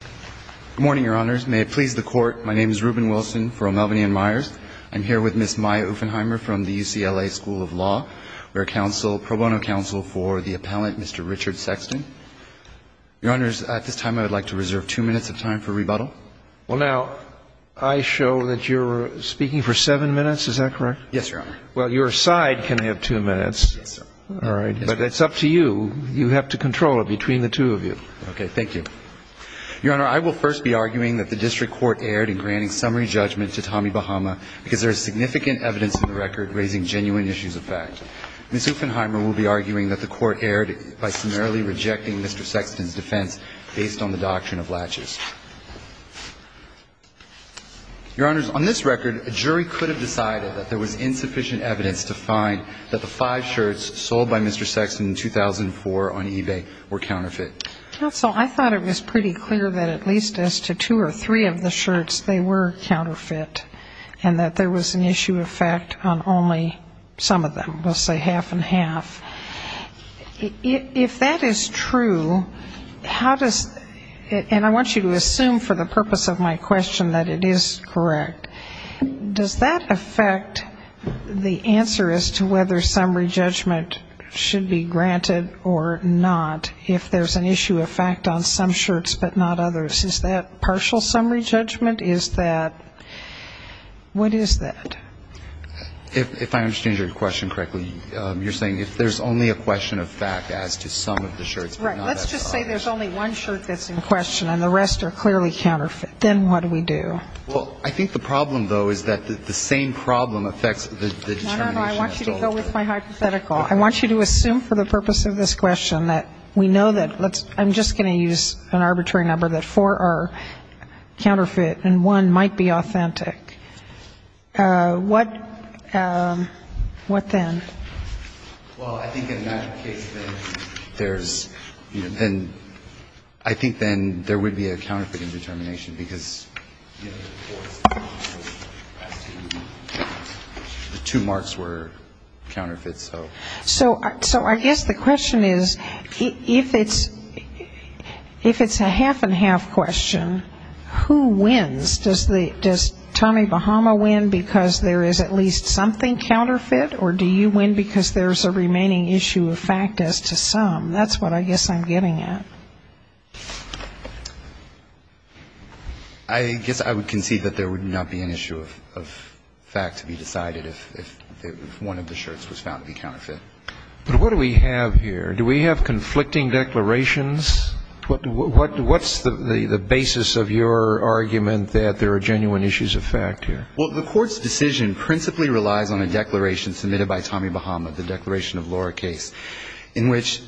Good morning, Your Honors. May it please the Court, my name is Reuben Wilson for O'Malveny & Myers. I'm here with Ms. Maya Ouffenheimer from the UCLA School of Law. We're a pro bono counsel for the appellant, Mr. Richard Sexton. Your Honors, at this time I would like to reserve two minutes of time for rebuttal. Well, now, I show that you're speaking for seven minutes. Is that correct? Yes, Your Honor. Well, your side can have two minutes. Yes, sir. All right. But it's up to you. You have to control it between the two of you. Okay. Thank you. Your Honor, I will first be arguing that the district court erred in granting summary judgment to Tommy Bahama because there is significant evidence in the record raising genuine issues of fact. Ms. Ouffenheimer will be arguing that the court erred by summarily rejecting Mr. Sexton's defense based on the doctrine of latches. Your Honors, on this record, a jury could have decided that there was insufficient evidence to find that the five shirts sold by Mr. Sexton in 2004 on eBay were counterfeit. Counsel, I thought it was pretty clear that at least as to two or three of the shirts, they were counterfeit, and that there was an issue of fact on only some of them, let's say half and half. If that is true, how does it ‑‑ and I want you to assume for the purpose of my question that it is correct. Does that affect the answer as to whether summary judgment should be granted or not if there's an issue of fact on some shirts but not others? Is that partial summary judgment? Is that ‑‑ what is that? If I understand your question correctly, you're saying if there's only a question of fact as to some of the shirts but not others. Right. Let's just say there's only one shirt that's in question and the rest are clearly counterfeit. Then what do we do? Well, I think the problem, though, is that the same problem affects the determination. No, no, no. I want you to go with my hypothetical. I want you to assume for the purpose of this question that we know that let's ‑‑ I'm just going to use an arbitrary number, that four are counterfeit and one might be authentic. What then? Well, I think in that case then there's, you know, then I think then there would be a counterfeiting determination because the two marks were counterfeit, so. So I guess the question is if it's a half and half question, who wins? Does Tommy Bahama win because there is at least something counterfeit or do you win because there's a remaining issue of fact as to some? That's what I guess I'm getting at. I guess I would concede that there would not be an issue of fact to be decided if one of the shirts was found to be counterfeit. But what do we have here? Do we have conflicting declarations? What's the basis of your argument that there are genuine issues of fact here? Well, the Court's decision principally relies on a declaration submitted by Tommy Bahama, the declaration of Laura Case, in which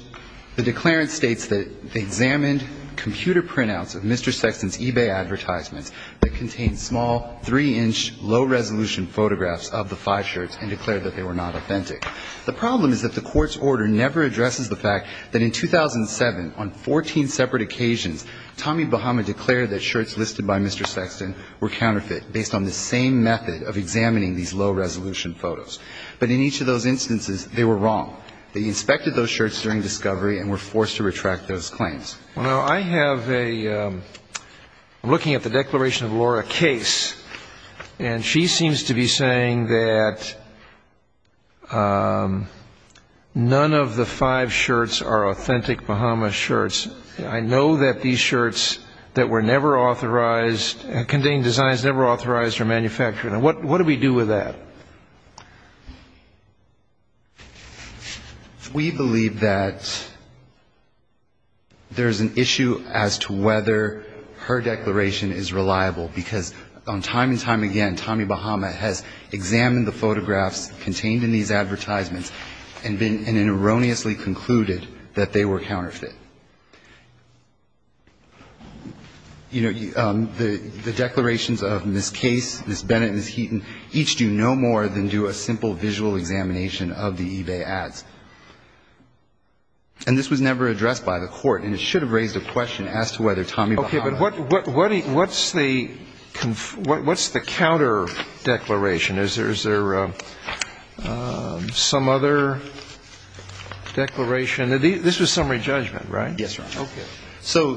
the declarant states that they examined computer printouts of Mr. Sexton's eBay advertisements that contained small, three‑inch, low‑resolution photographs of the five shirts and declared that they were not authentic. The problem is that the Court's order never addresses the fact that in 2007, on 14 separate occasions, Tommy Bahama declared that shirts listed by Mr. Sexton were counterfeit based on the same method of examining these low‑resolution photos. But in each of those instances, they were wrong. They inspected those shirts during discovery and were forced to retract those claims. Well, I have a ‑‑ I'm looking at the declaration of Laura Case, and she seems to be saying that none of the five shirts are authentic Bahama shirts. I know that these shirts that were never authorized, containing designs never authorized are manufactured. And what do we do with that? We believe that there's an issue as to whether her declaration is reliable, because on time and time again, Tommy Bahama has examined the photographs contained in these advertisements and erroneously concluded that they were counterfeit. You know, the declarations of Ms. Case, Ms. Bennett and Ms. Heaton each do no more than do a simple visual examination of the eBay ads. And this was never addressed by the Court, and it should have raised a question as to whether Tommy Bahama ‑‑ Okay. But what's the counter declaration? Is there some other declaration? This was summary judgment, right? Yes, Your Honor. Okay. So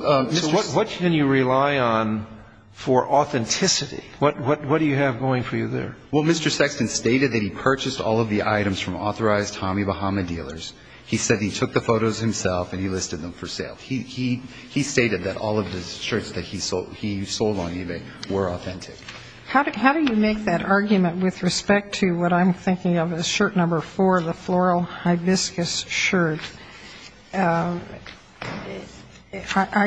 what can you rely on for authenticity? What do you have going for you there? Well, Mr. Sexton stated that he purchased all of the items from authorized Tommy Bahama dealers. He said he took the photos himself and he listed them for sale. He stated that all of the shirts that he sold on eBay were authentic. How do you make that argument with respect to what I'm thinking of as shirt number four, the floral hibiscus shirt? I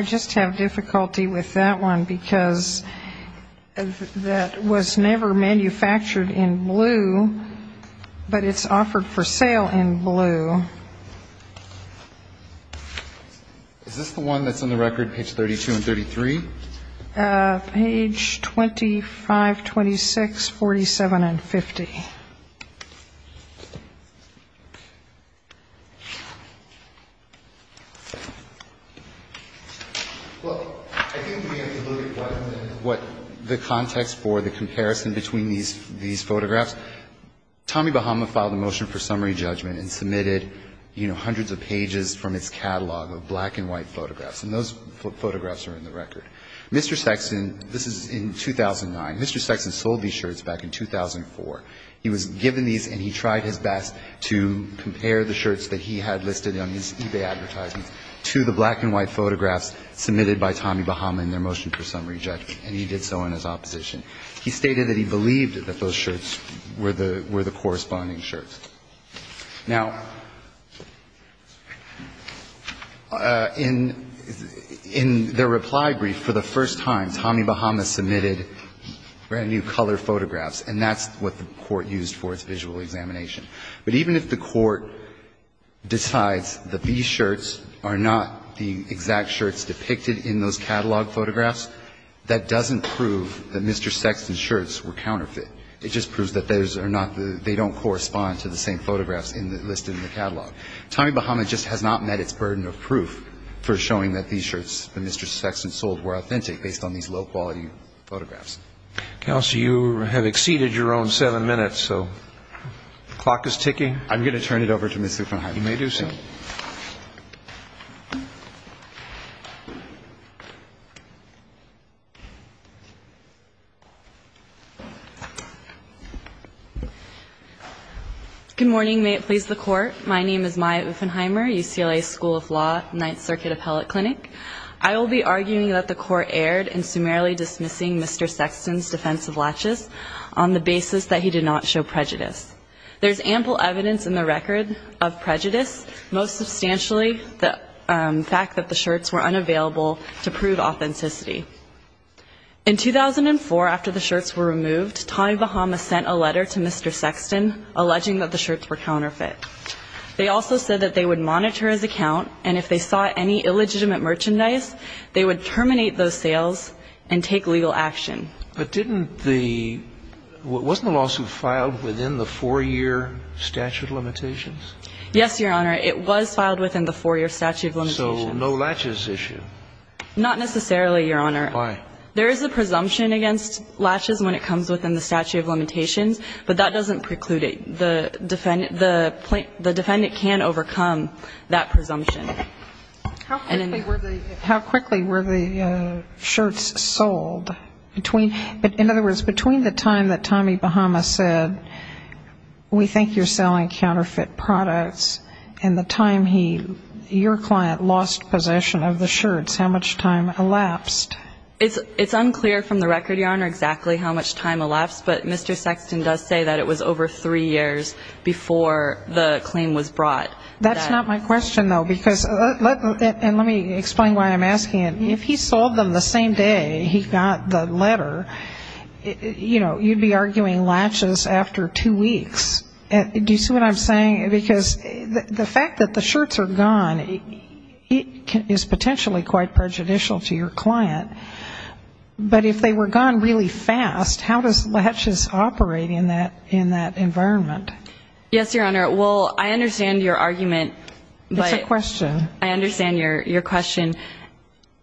just have difficulty with that one, because that was never manufactured in blue, but it's offered for sale in blue. Is this the one that's on the record, page 32 and 33? Page 25, 26, 47, and 50. Well, I think we have to look at what the context for the comparison between these photographs. Tommy Bahama filed a motion for summary judgment and submitted, you know, hundreds of pages from its catalog of black and white photographs, and those photographs are in the record. Mr. Sexton, this is in 2009, Mr. Sexton sold these shirts back in 2004. He was given these and he tried his best to compare the shirts that he had listed on his eBay advertisements to the black and white photographs submitted by Tommy Bahama in their motion for summary judgment, and he did so in his opposition. He stated that he believed that those shirts were the corresponding shirts. Now, in their reply brief, for the first time, Tommy Bahama submitted brand-new color photographs, and that's what the court used for its visual examination. But even if the court decides that these shirts are not the exact shirts depicted in those catalog photographs, that doesn't prove that Mr. Sexton's shirts were counterfeit. It just proves that those are not the they don't correspond to the same photographs listed in the catalog. Tommy Bahama just has not met its burden of proof for showing that these shirts that Mr. Sexton sold were authentic based on these low-quality photographs. Counsel, you have exceeded your own seven minutes, so the clock is ticking. I'm going to turn it over to Ms. Liefenheim. You may do so. MS. LIEFENHEIMER Good morning. May it please the Court. My name is Maya Liefenheimer, UCLA School of Law, Ninth Circuit Appellate Clinic. I will be arguing that the Court erred in summarily dismissing Mr. Sexton's defense of laches on the basis that he did not show prejudice. There's ample evidence in the record of prejudice, most substantially the fact that the shirts were unavailable to prove authenticity. In 2004, after the shirts were removed, Tommy Bahama sent a letter to Mr. Sexton alleging that the shirts were counterfeit. They also said that they would monitor his account, and if they saw any illegitimate merchandise, they would terminate those sales and take legal action. But didn't the wasn't the lawsuit filed within the four-year statute of limitations? Yes, Your Honor, it was filed within the four-year statute of limitations. So no laches issue? Not necessarily, Your Honor. Why? There is a presumption against laches when it comes within the statute of limitations, but that doesn't preclude it. The defendant can overcome that presumption. How quickly were the shirts sold? In other words, between the time that Tommy Bahama said, we think you're selling counterfeit products, and the time he, your client, lost possession of the shirts, how much time elapsed? It's unclear from the record, Your Honor, exactly how much time elapsed, but Mr. Sexton does say that it was over three years before the claim was brought. That's not my question, though, because let me explain why I'm asking it. If he sold them the same day he got the letter, you know, you'd be arguing laches after two weeks. Do you see what I'm saying? Because the fact that the shirts are gone is potentially quite prejudicial to your client. But if they were gone really fast, how does laches operate in that environment? Yes, Your Honor. Well, I understand your argument. It's a question. I understand your question.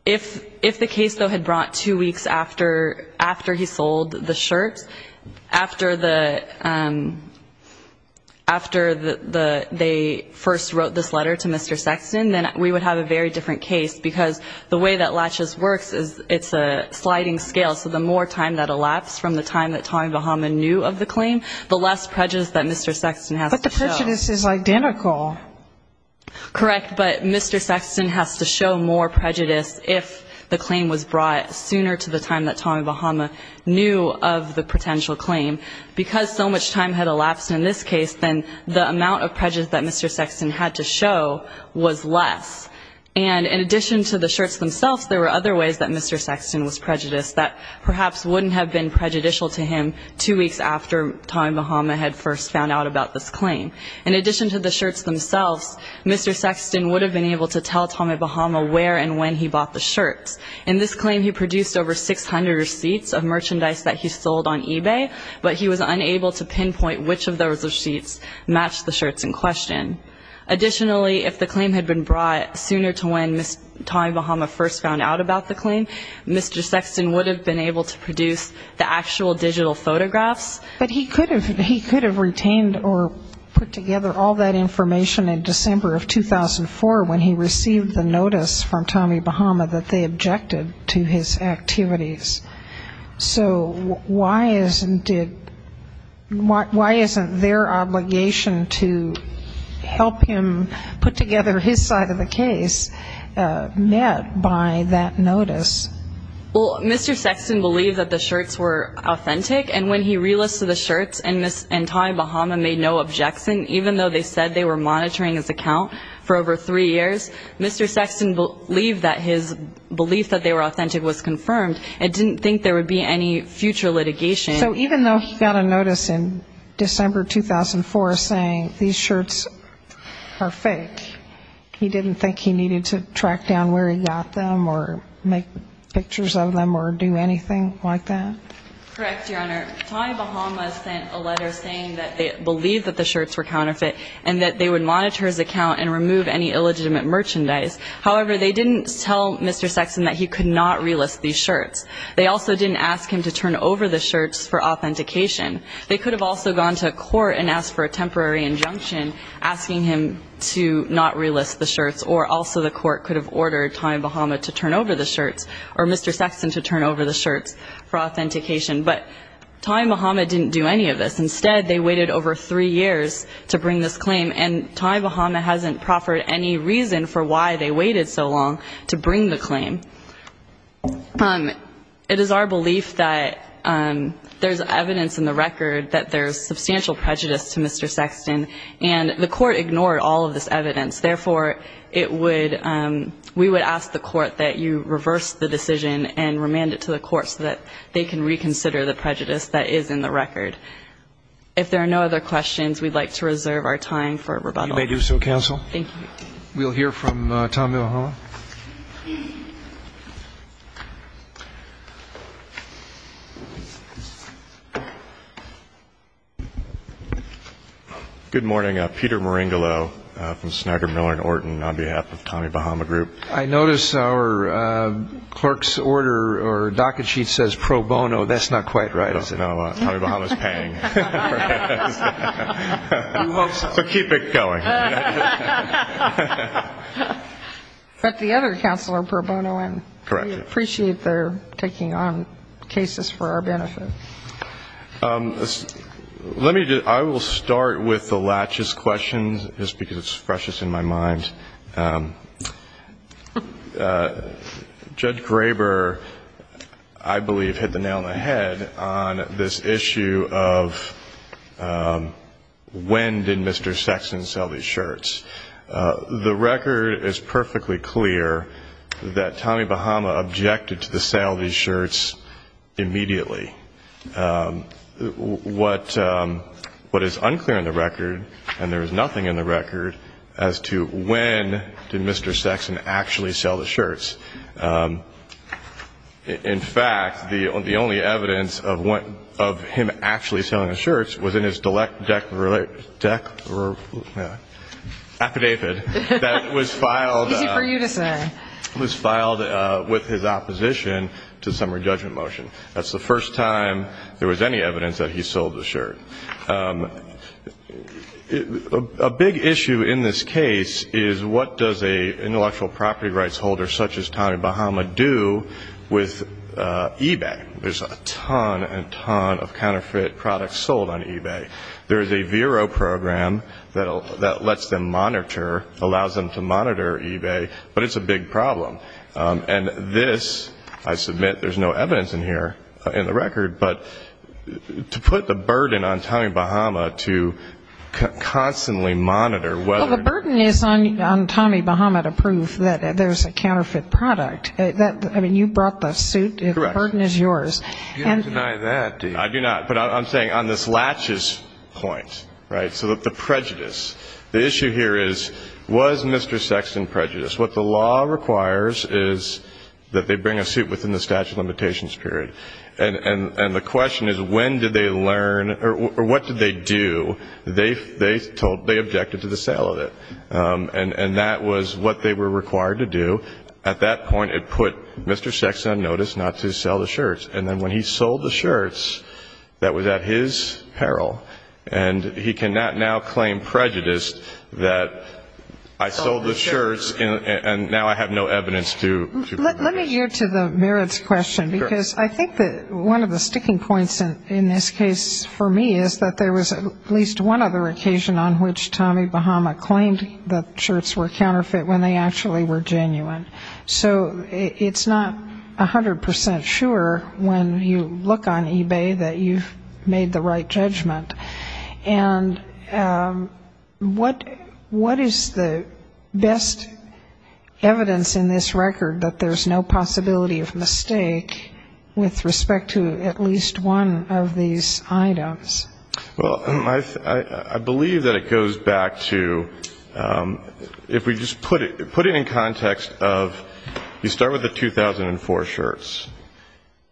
If the case, though, had brought two weeks after he sold the shirts, after they first wrote this letter to Mr. Sexton, then we would have a very different case because the way that laches works is it's a sliding scale. So the more time that elapsed from the time that Tommy Bahama knew of the claim, the less prejudice that Mr. Sexton has to show. But the prejudice is identical. Correct. But Mr. Sexton has to show more prejudice if the claim was brought sooner to the time that Tommy Bahama knew of the potential claim. Because so much time had elapsed in this case, then the amount of prejudice that Mr. Sexton had to show was less. And in addition to the shirts themselves, there were other ways that Mr. Sexton was prejudiced that perhaps wouldn't have been prejudicial to him two weeks after Tommy Bahama had first found out about this claim. In addition to the shirts themselves, Mr. Sexton would have been able to tell Tommy Bahama where and when he bought the shirts. In this claim, he produced over 600 receipts of merchandise that he sold on eBay, but he was unable to pinpoint which of those receipts matched the shirts in question. Additionally, if the claim had been brought sooner to when Tommy Bahama first found out about the claim, Mr. Sexton would have been able to produce the actual digital photographs. But he could have retained or put together all that information in December of 2004 when he received the notice from Tommy Bahama that they objected to his activities. So why isn't it their obligation to help him put together his side of the case met by that notice? Well, Mr. Sexton believed that the shirts were authentic. And when he relisted the shirts and Tommy Bahama made no objection, even though they said they were monitoring his account for over three years, Mr. Sexton believed that his belief that they were authentic was confirmed and didn't think there would be any future litigation. So even though he got a notice in December 2004 saying these shirts are fake, he didn't think he needed to track down where he got them or make pictures of them or do anything like that? Correct, Your Honor. Tommy Bahama sent a letter saying that they believed that the shirts were counterfeit and that they would monitor his account and remove any illegitimate merchandise. However, they didn't tell Mr. Sexton that he could not relist these shirts. They also didn't ask him to turn over the shirts for authentication. They could have also gone to court and asked for a temporary injunction asking him to not relist the shirts, or also the court could have ordered Tommy Bahama to turn over the shirts or Mr. Sexton to turn over the shirts for authentication. But Tommy Bahama didn't do any of this. Instead, they waited over three years to bring this claim, and Tommy Bahama hasn't proffered any reason for why they waited so long to bring the claim. It is our belief that there's evidence in the record that there's substantial prejudice to Mr. Sexton, and the court ignored all of this evidence. Therefore, we would ask the court that you reverse the decision and remand it to the court so that they can reconsider the prejudice that is in the record. If there are no other questions, we'd like to reserve our time for rebuttal. You may do so, counsel. Thank you. We'll hear from Tommy Bahama. Thank you, counsel. Good morning. Peter Maringolo from Snyder, Miller & Orton on behalf of Tommy Bahama Group. I notice our clerk's order or docket sheet says pro bono. That's not quite right, is it? No, Tommy Bahama is paying. So keep it going. But the other counsel are pro bono, and we appreciate their taking on cases for our benefit. I will start with the laches question, just because it's freshest in my mind. Judge Graber, I believe, hit the nail on the head on this issue of when did Mr. Sexton sell the insurance? The record is perfectly clear that Tommy Bahama objected to the sale of these shirts immediately. What is unclear in the record, and there is nothing in the record, as to when did Mr. Sexton actually sell the shirts. In fact, the only evidence of him actually selling the shirts was in his delectable affidavit that was filed. Easy for you to say. It was filed with his opposition to the summary judgment motion. That's the first time there was any evidence that he sold the shirt. A big issue in this case is what does an intellectual property rights holder such as Tommy Bahama do with eBay? There's a ton and ton of counterfeit products sold on eBay. There is a Vero program that lets them monitor, allows them to monitor eBay, but it's a big problem. And this, I submit there's no evidence in here in the record, but to put the burden on Tommy Bahama to constantly monitor whether. Well, the burden is on Tommy Bahama to prove that there's a counterfeit product. I mean, you brought the suit. Correct. The burden is yours. You don't deny that, do you? I do not. But I'm saying on this laches point, right, so the prejudice. The issue here is was Mr. Sexton prejudiced? What the law requires is that they bring a suit within the statute of limitations period. And the question is when did they learn or what did they do? They told they objected to the sale of it. And that was what they were required to do. At that point, it put Mr. Sexton on notice not to sell the shirts. And then when he sold the shirts, that was at his peril. And he cannot now claim prejudice that I sold the shirts and now I have no evidence to prove that. Let me get to the merits question. Because I think that one of the sticking points in this case for me is that there was at least one other occasion on which Tommy Bahama claimed that shirts were counterfeit when they actually were genuine. So it's not 100% sure when you look on eBay that you've made the right judgment. And what is the best evidence in this record that there's no possibility of mistake with respect to at least one of these items? Well, I believe that it goes back to if we just put it in context of you start with the 2004 shirts.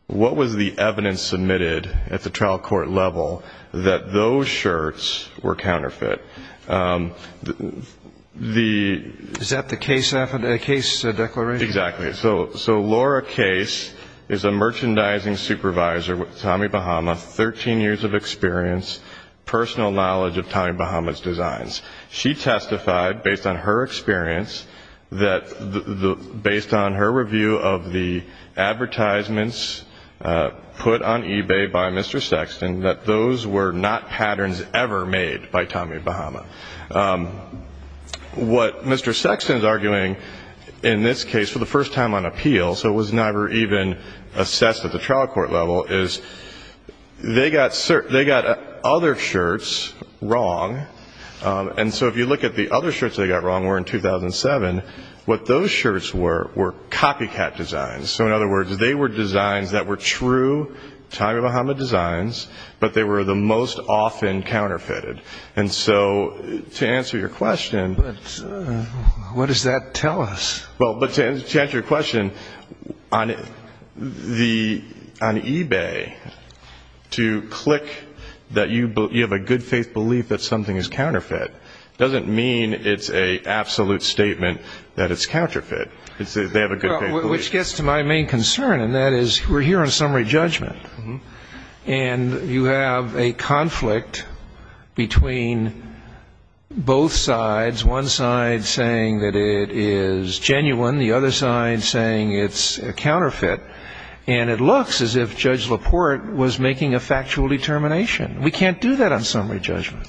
What was the evidence submitted at the trial court level that those shirts were counterfeit? Is that the case declaration? Exactly. So Laura Case is a merchandising supervisor with Tommy Bahama, 13 years of experience, personal knowledge of Tommy Bahama's designs. She testified based on her experience that based on her review of the advertisements put on eBay by Mr. Sexton that those were not patterns ever made by Tommy Bahama. What Mr. Sexton is arguing in this case for the first time on appeal, so it was never even assessed at the trial court level, is they got other shirts wrong. And so if you look at the other shirts they got wrong were in 2007, what those shirts were were copycat designs. So in other words, they were designs that were true Tommy Bahama designs, but they were the most often counterfeited. And so to answer your question. But what does that tell us? Well, to answer your question, on eBay to click that you have a good faith belief that something is counterfeit doesn't mean it's an absolute statement that it's counterfeit. They have a good faith belief. Which gets to my main concern, and that is we're here on summary judgment. And you have a conflict between both sides. One side saying that it is genuine. The other side saying it's a counterfeit. And it looks as if Judge LaPorte was making a factual determination. We can't do that on summary judgment.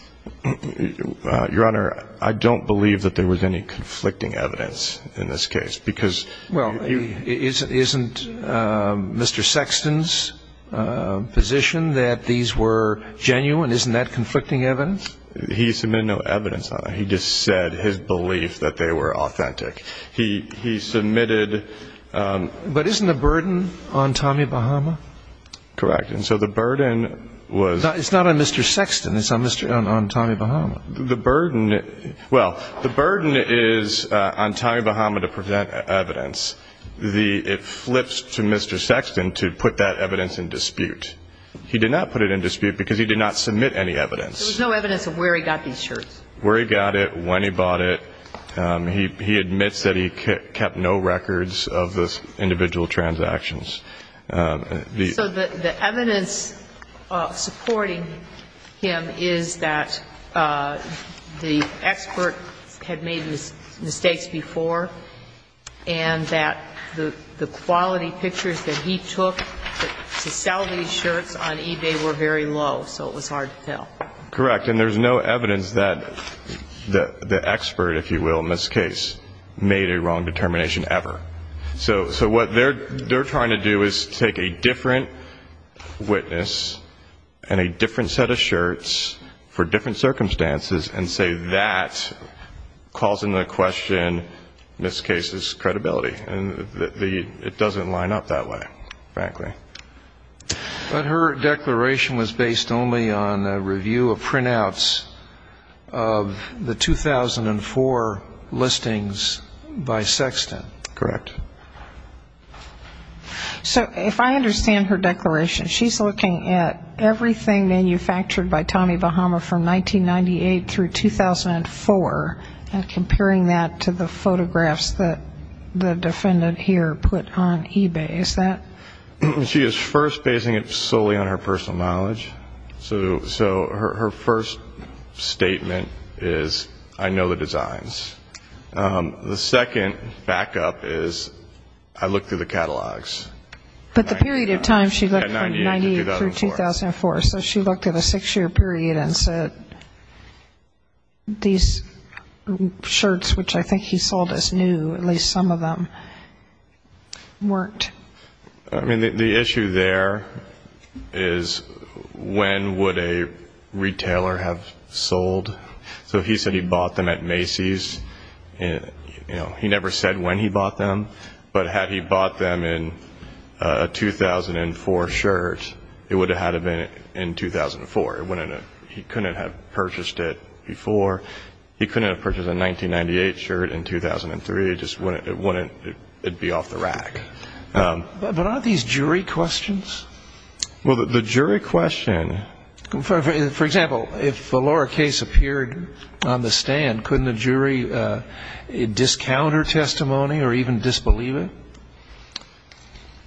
Your Honor, I don't believe that there was any conflicting evidence in this case. Well, isn't Mr. Sexton's position that these were genuine? Isn't that conflicting evidence? He submitted no evidence. He just said his belief that they were authentic. He submitted. But isn't the burden on Tommy Bahama? Correct. And so the burden was. It's not on Mr. Sexton. It's on Tommy Bahama. The burden. Well, the burden is on Tommy Bahama to present evidence. It flips to Mr. Sexton to put that evidence in dispute. He did not put it in dispute because he did not submit any evidence. There was no evidence of where he got these shirts. Where he got it, when he bought it. He admits that he kept no records of the individual transactions. So the evidence supporting him is that the expert had made mistakes before and that the quality pictures that he took to sell these shirts on eBay were very low, so it was hard to tell. Correct. And there's no evidence that the expert, if you will, in this case, made a wrong determination ever. So what they're trying to do is take a different witness and a different set of shirts for different circumstances and say that calls into question this case's credibility. And it doesn't line up that way, frankly. But her declaration was based only on a review of printouts of the 2004 listings by Sexton. Correct. So if I understand her declaration, she's looking at everything manufactured by Tommy Bahama from 1998 through 2004 and comparing that to the photographs that the defendant here put on eBay, is that? She is first basing it solely on her personal knowledge. So her first statement is, I know the designs. The second backup is, I looked through the catalogs. But the period of time she looked from 1998 through 2004, so she looked at a six-year period and said, these shirts, which I think he sold as new, at least some of them, weren't. I mean, the issue there is when would a retailer have sold? So if he said he bought them at Macy's, he never said when he bought them. But had he bought them in a 2004 shirt, it would have had them in 2004. He couldn't have purchased it before. He couldn't have purchased a 1998 shirt in 2003. It wouldn't be off the rack. But aren't these jury questions? Well, the jury question. For example, if the Laura case appeared on the stand, couldn't the jury discount her testimony or even disbelieve it?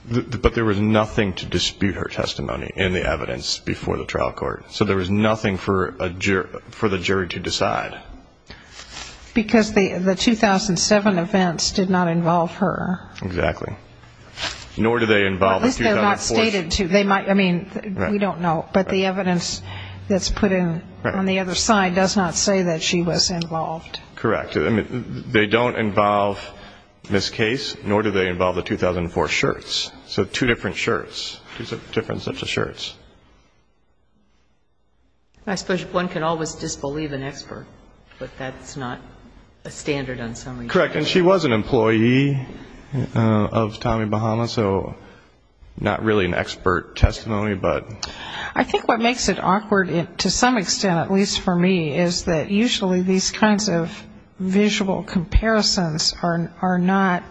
But there was nothing to dispute her testimony in the evidence before the trial court. So there was nothing for the jury to decide. Because the 2007 events did not involve her. Exactly. Nor do they involve the 2004. I mean, we don't know. But the evidence that's put in on the other side does not say that she was involved. Correct. I mean, they don't involve this case, nor do they involve the 2004 shirts. So two different shirts. Two different sets of shirts. I suppose one can always disbelieve an expert, but that's not a standard on summary. Correct. And she was an employee of Tommy Bahama, so not really an expert testimony. I think what makes it awkward, to some extent, at least for me, is that usually these kinds of visual comparisons are not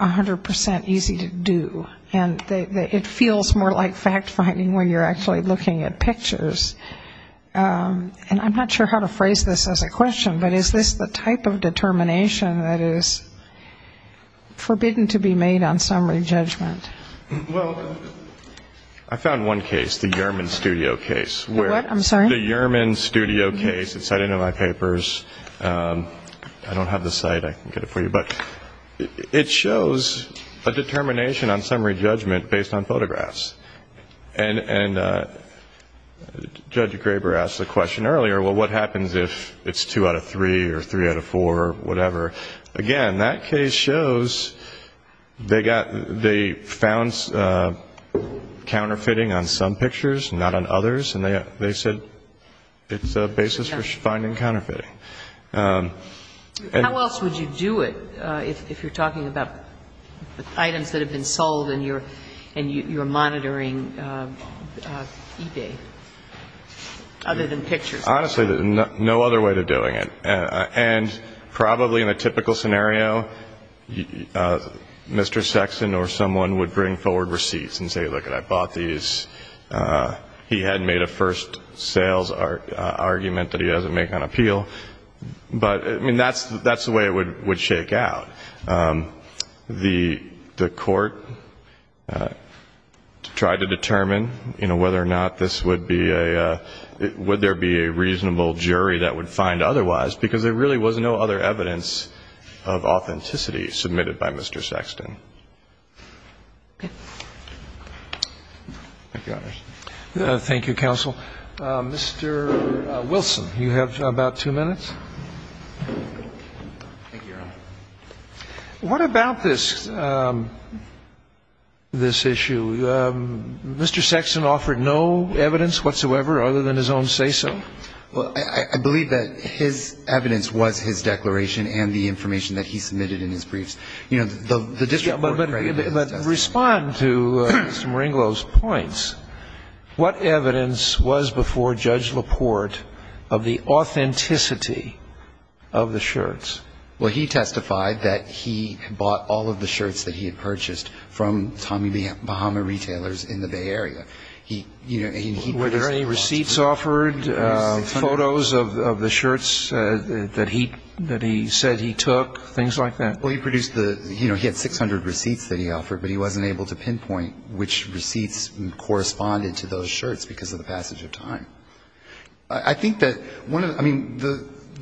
100% easy to do. And it feels more like fact-finding when you're actually looking at pictures. And I'm not sure how to phrase this as a question, but is this the type of determination that is forbidden to be made on summary judgment? Well, I found one case, the Yerman Studio case. What? I'm sorry? The Yerman Studio case. It's cited in my papers. I don't have the site. I can get it for you. But it shows a determination on summary judgment based on photographs. And Judge Graber asked the question earlier, well, what happens if it's two out of three or three out of four or whatever? Again, that case shows they found counterfeiting on some pictures, not on others. And they said it's a basis for finding counterfeiting. How else would you do it if you're talking about items that have been sold and you're monitoring eBay other than pictures? Honestly, no other way of doing it. And probably in a typical scenario, Mr. Sexton or someone would bring forward receipts and say, look, I bought these. He had made a first sales argument that he doesn't make on appeal. But, I mean, that's the way it would shake out. The Court tried to determine, you know, whether or not this would be a ‑‑ would there be a reasonable jury that would find otherwise, because there really was no other evidence of authenticity submitted by Mr. Sexton. Thank you, Your Honor. Thank you, counsel. Mr. Wilson, you have about two minutes. Thank you, Your Honor. What about this issue? Mr. Sexton offered no evidence whatsoever other than his own say‑so? Well, I believe that his evidence was his declaration and the information that he submitted in his briefs. You know, the district court created it. But respond to Mr. Merenglo's points. What evidence was before Judge LaPorte of the authenticity of the shirts? Well, he testified that he bought all of the shirts that he had purchased from Tommy Bahama retailers in the Bay Area. Were there any receipts offered, photos of the shirts that he said he took, things like that? Well, he produced the ‑‑ you know, he had 600 receipts that he offered, but he wasn't able to pinpoint which receipts corresponded to those shirts because of the passage of time. I think that one of the ‑‑ I mean,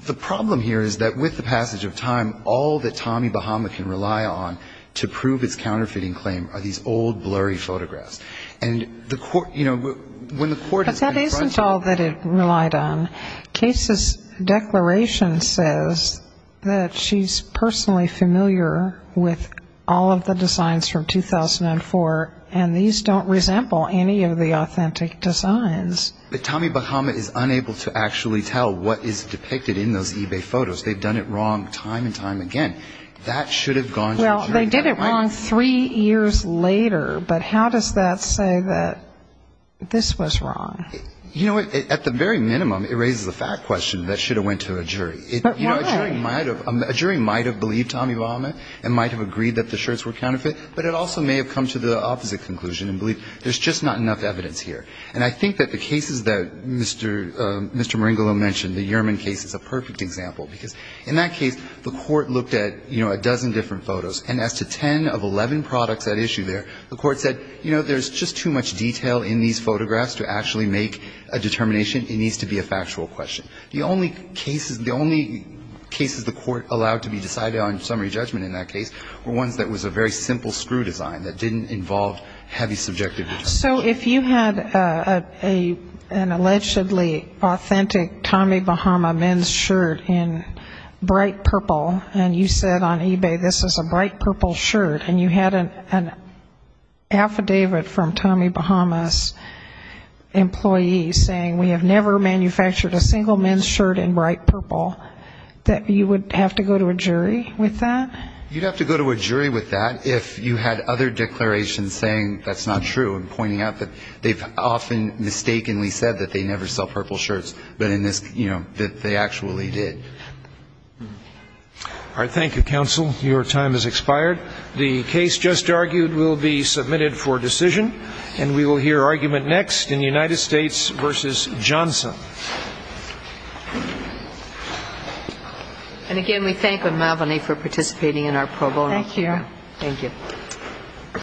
the problem here is that with the passage of time, all that Tommy Bahama can rely on to prove his counterfeiting claim are these old, blurry photographs. And the court, you know, when the court has been in front of him ‑‑ But that isn't all that it relied on. Case's declaration says that she's personally familiar with all of the designs from 2004, and these don't resemble any of the authentic designs. But Tommy Bahama is unable to actually tell what is depicted in those eBay photos. They've done it wrong time and time again. That should have gone to a jury. Well, they did it wrong three years later, but how does that say that this was wrong? You know, at the very minimum, it raises a fact question that should have went to a jury. But why? A jury might have believed Tommy Bahama and might have agreed that the shirts were counterfeit, but it also may have come to the opposite conclusion and believed there's just not enough evidence here. And I think that the cases that Mr. Maringolo mentioned, the Uriman case, is a perfect example, because in that case, the court looked at, you know, a dozen different photos. And as to 10 of 11 products at issue there, the court said, you know, there's just too much detail in these photographs to actually make a determination. It needs to be a factual question. The only cases ‑‑ the only cases the court allowed to be decided on summary judgment in that case were ones that was a very simple screw design that didn't involve heavy subjective judgment. So if you had an allegedly authentic Tommy Bahama men's shirt in bright purple, and you said on eBay this is a bright purple shirt, and you had an affidavit from Tommy Bahama's employee saying we have never manufactured a single men's shirt in bright purple, that you would have to go to a jury with that? You'd have to go to a jury with that if you had other declarations saying that's not true and pointing out that they've often mistakenly said that they never sell purple shirts, but in this, you know, that they actually did. All right. Thank you, counsel. Your time has expired. The case just argued will be submitted for decision. And we will hear argument next in United States v. Johnson. And, again, we thank you for participating in our pro bono. Thank you. Thank you.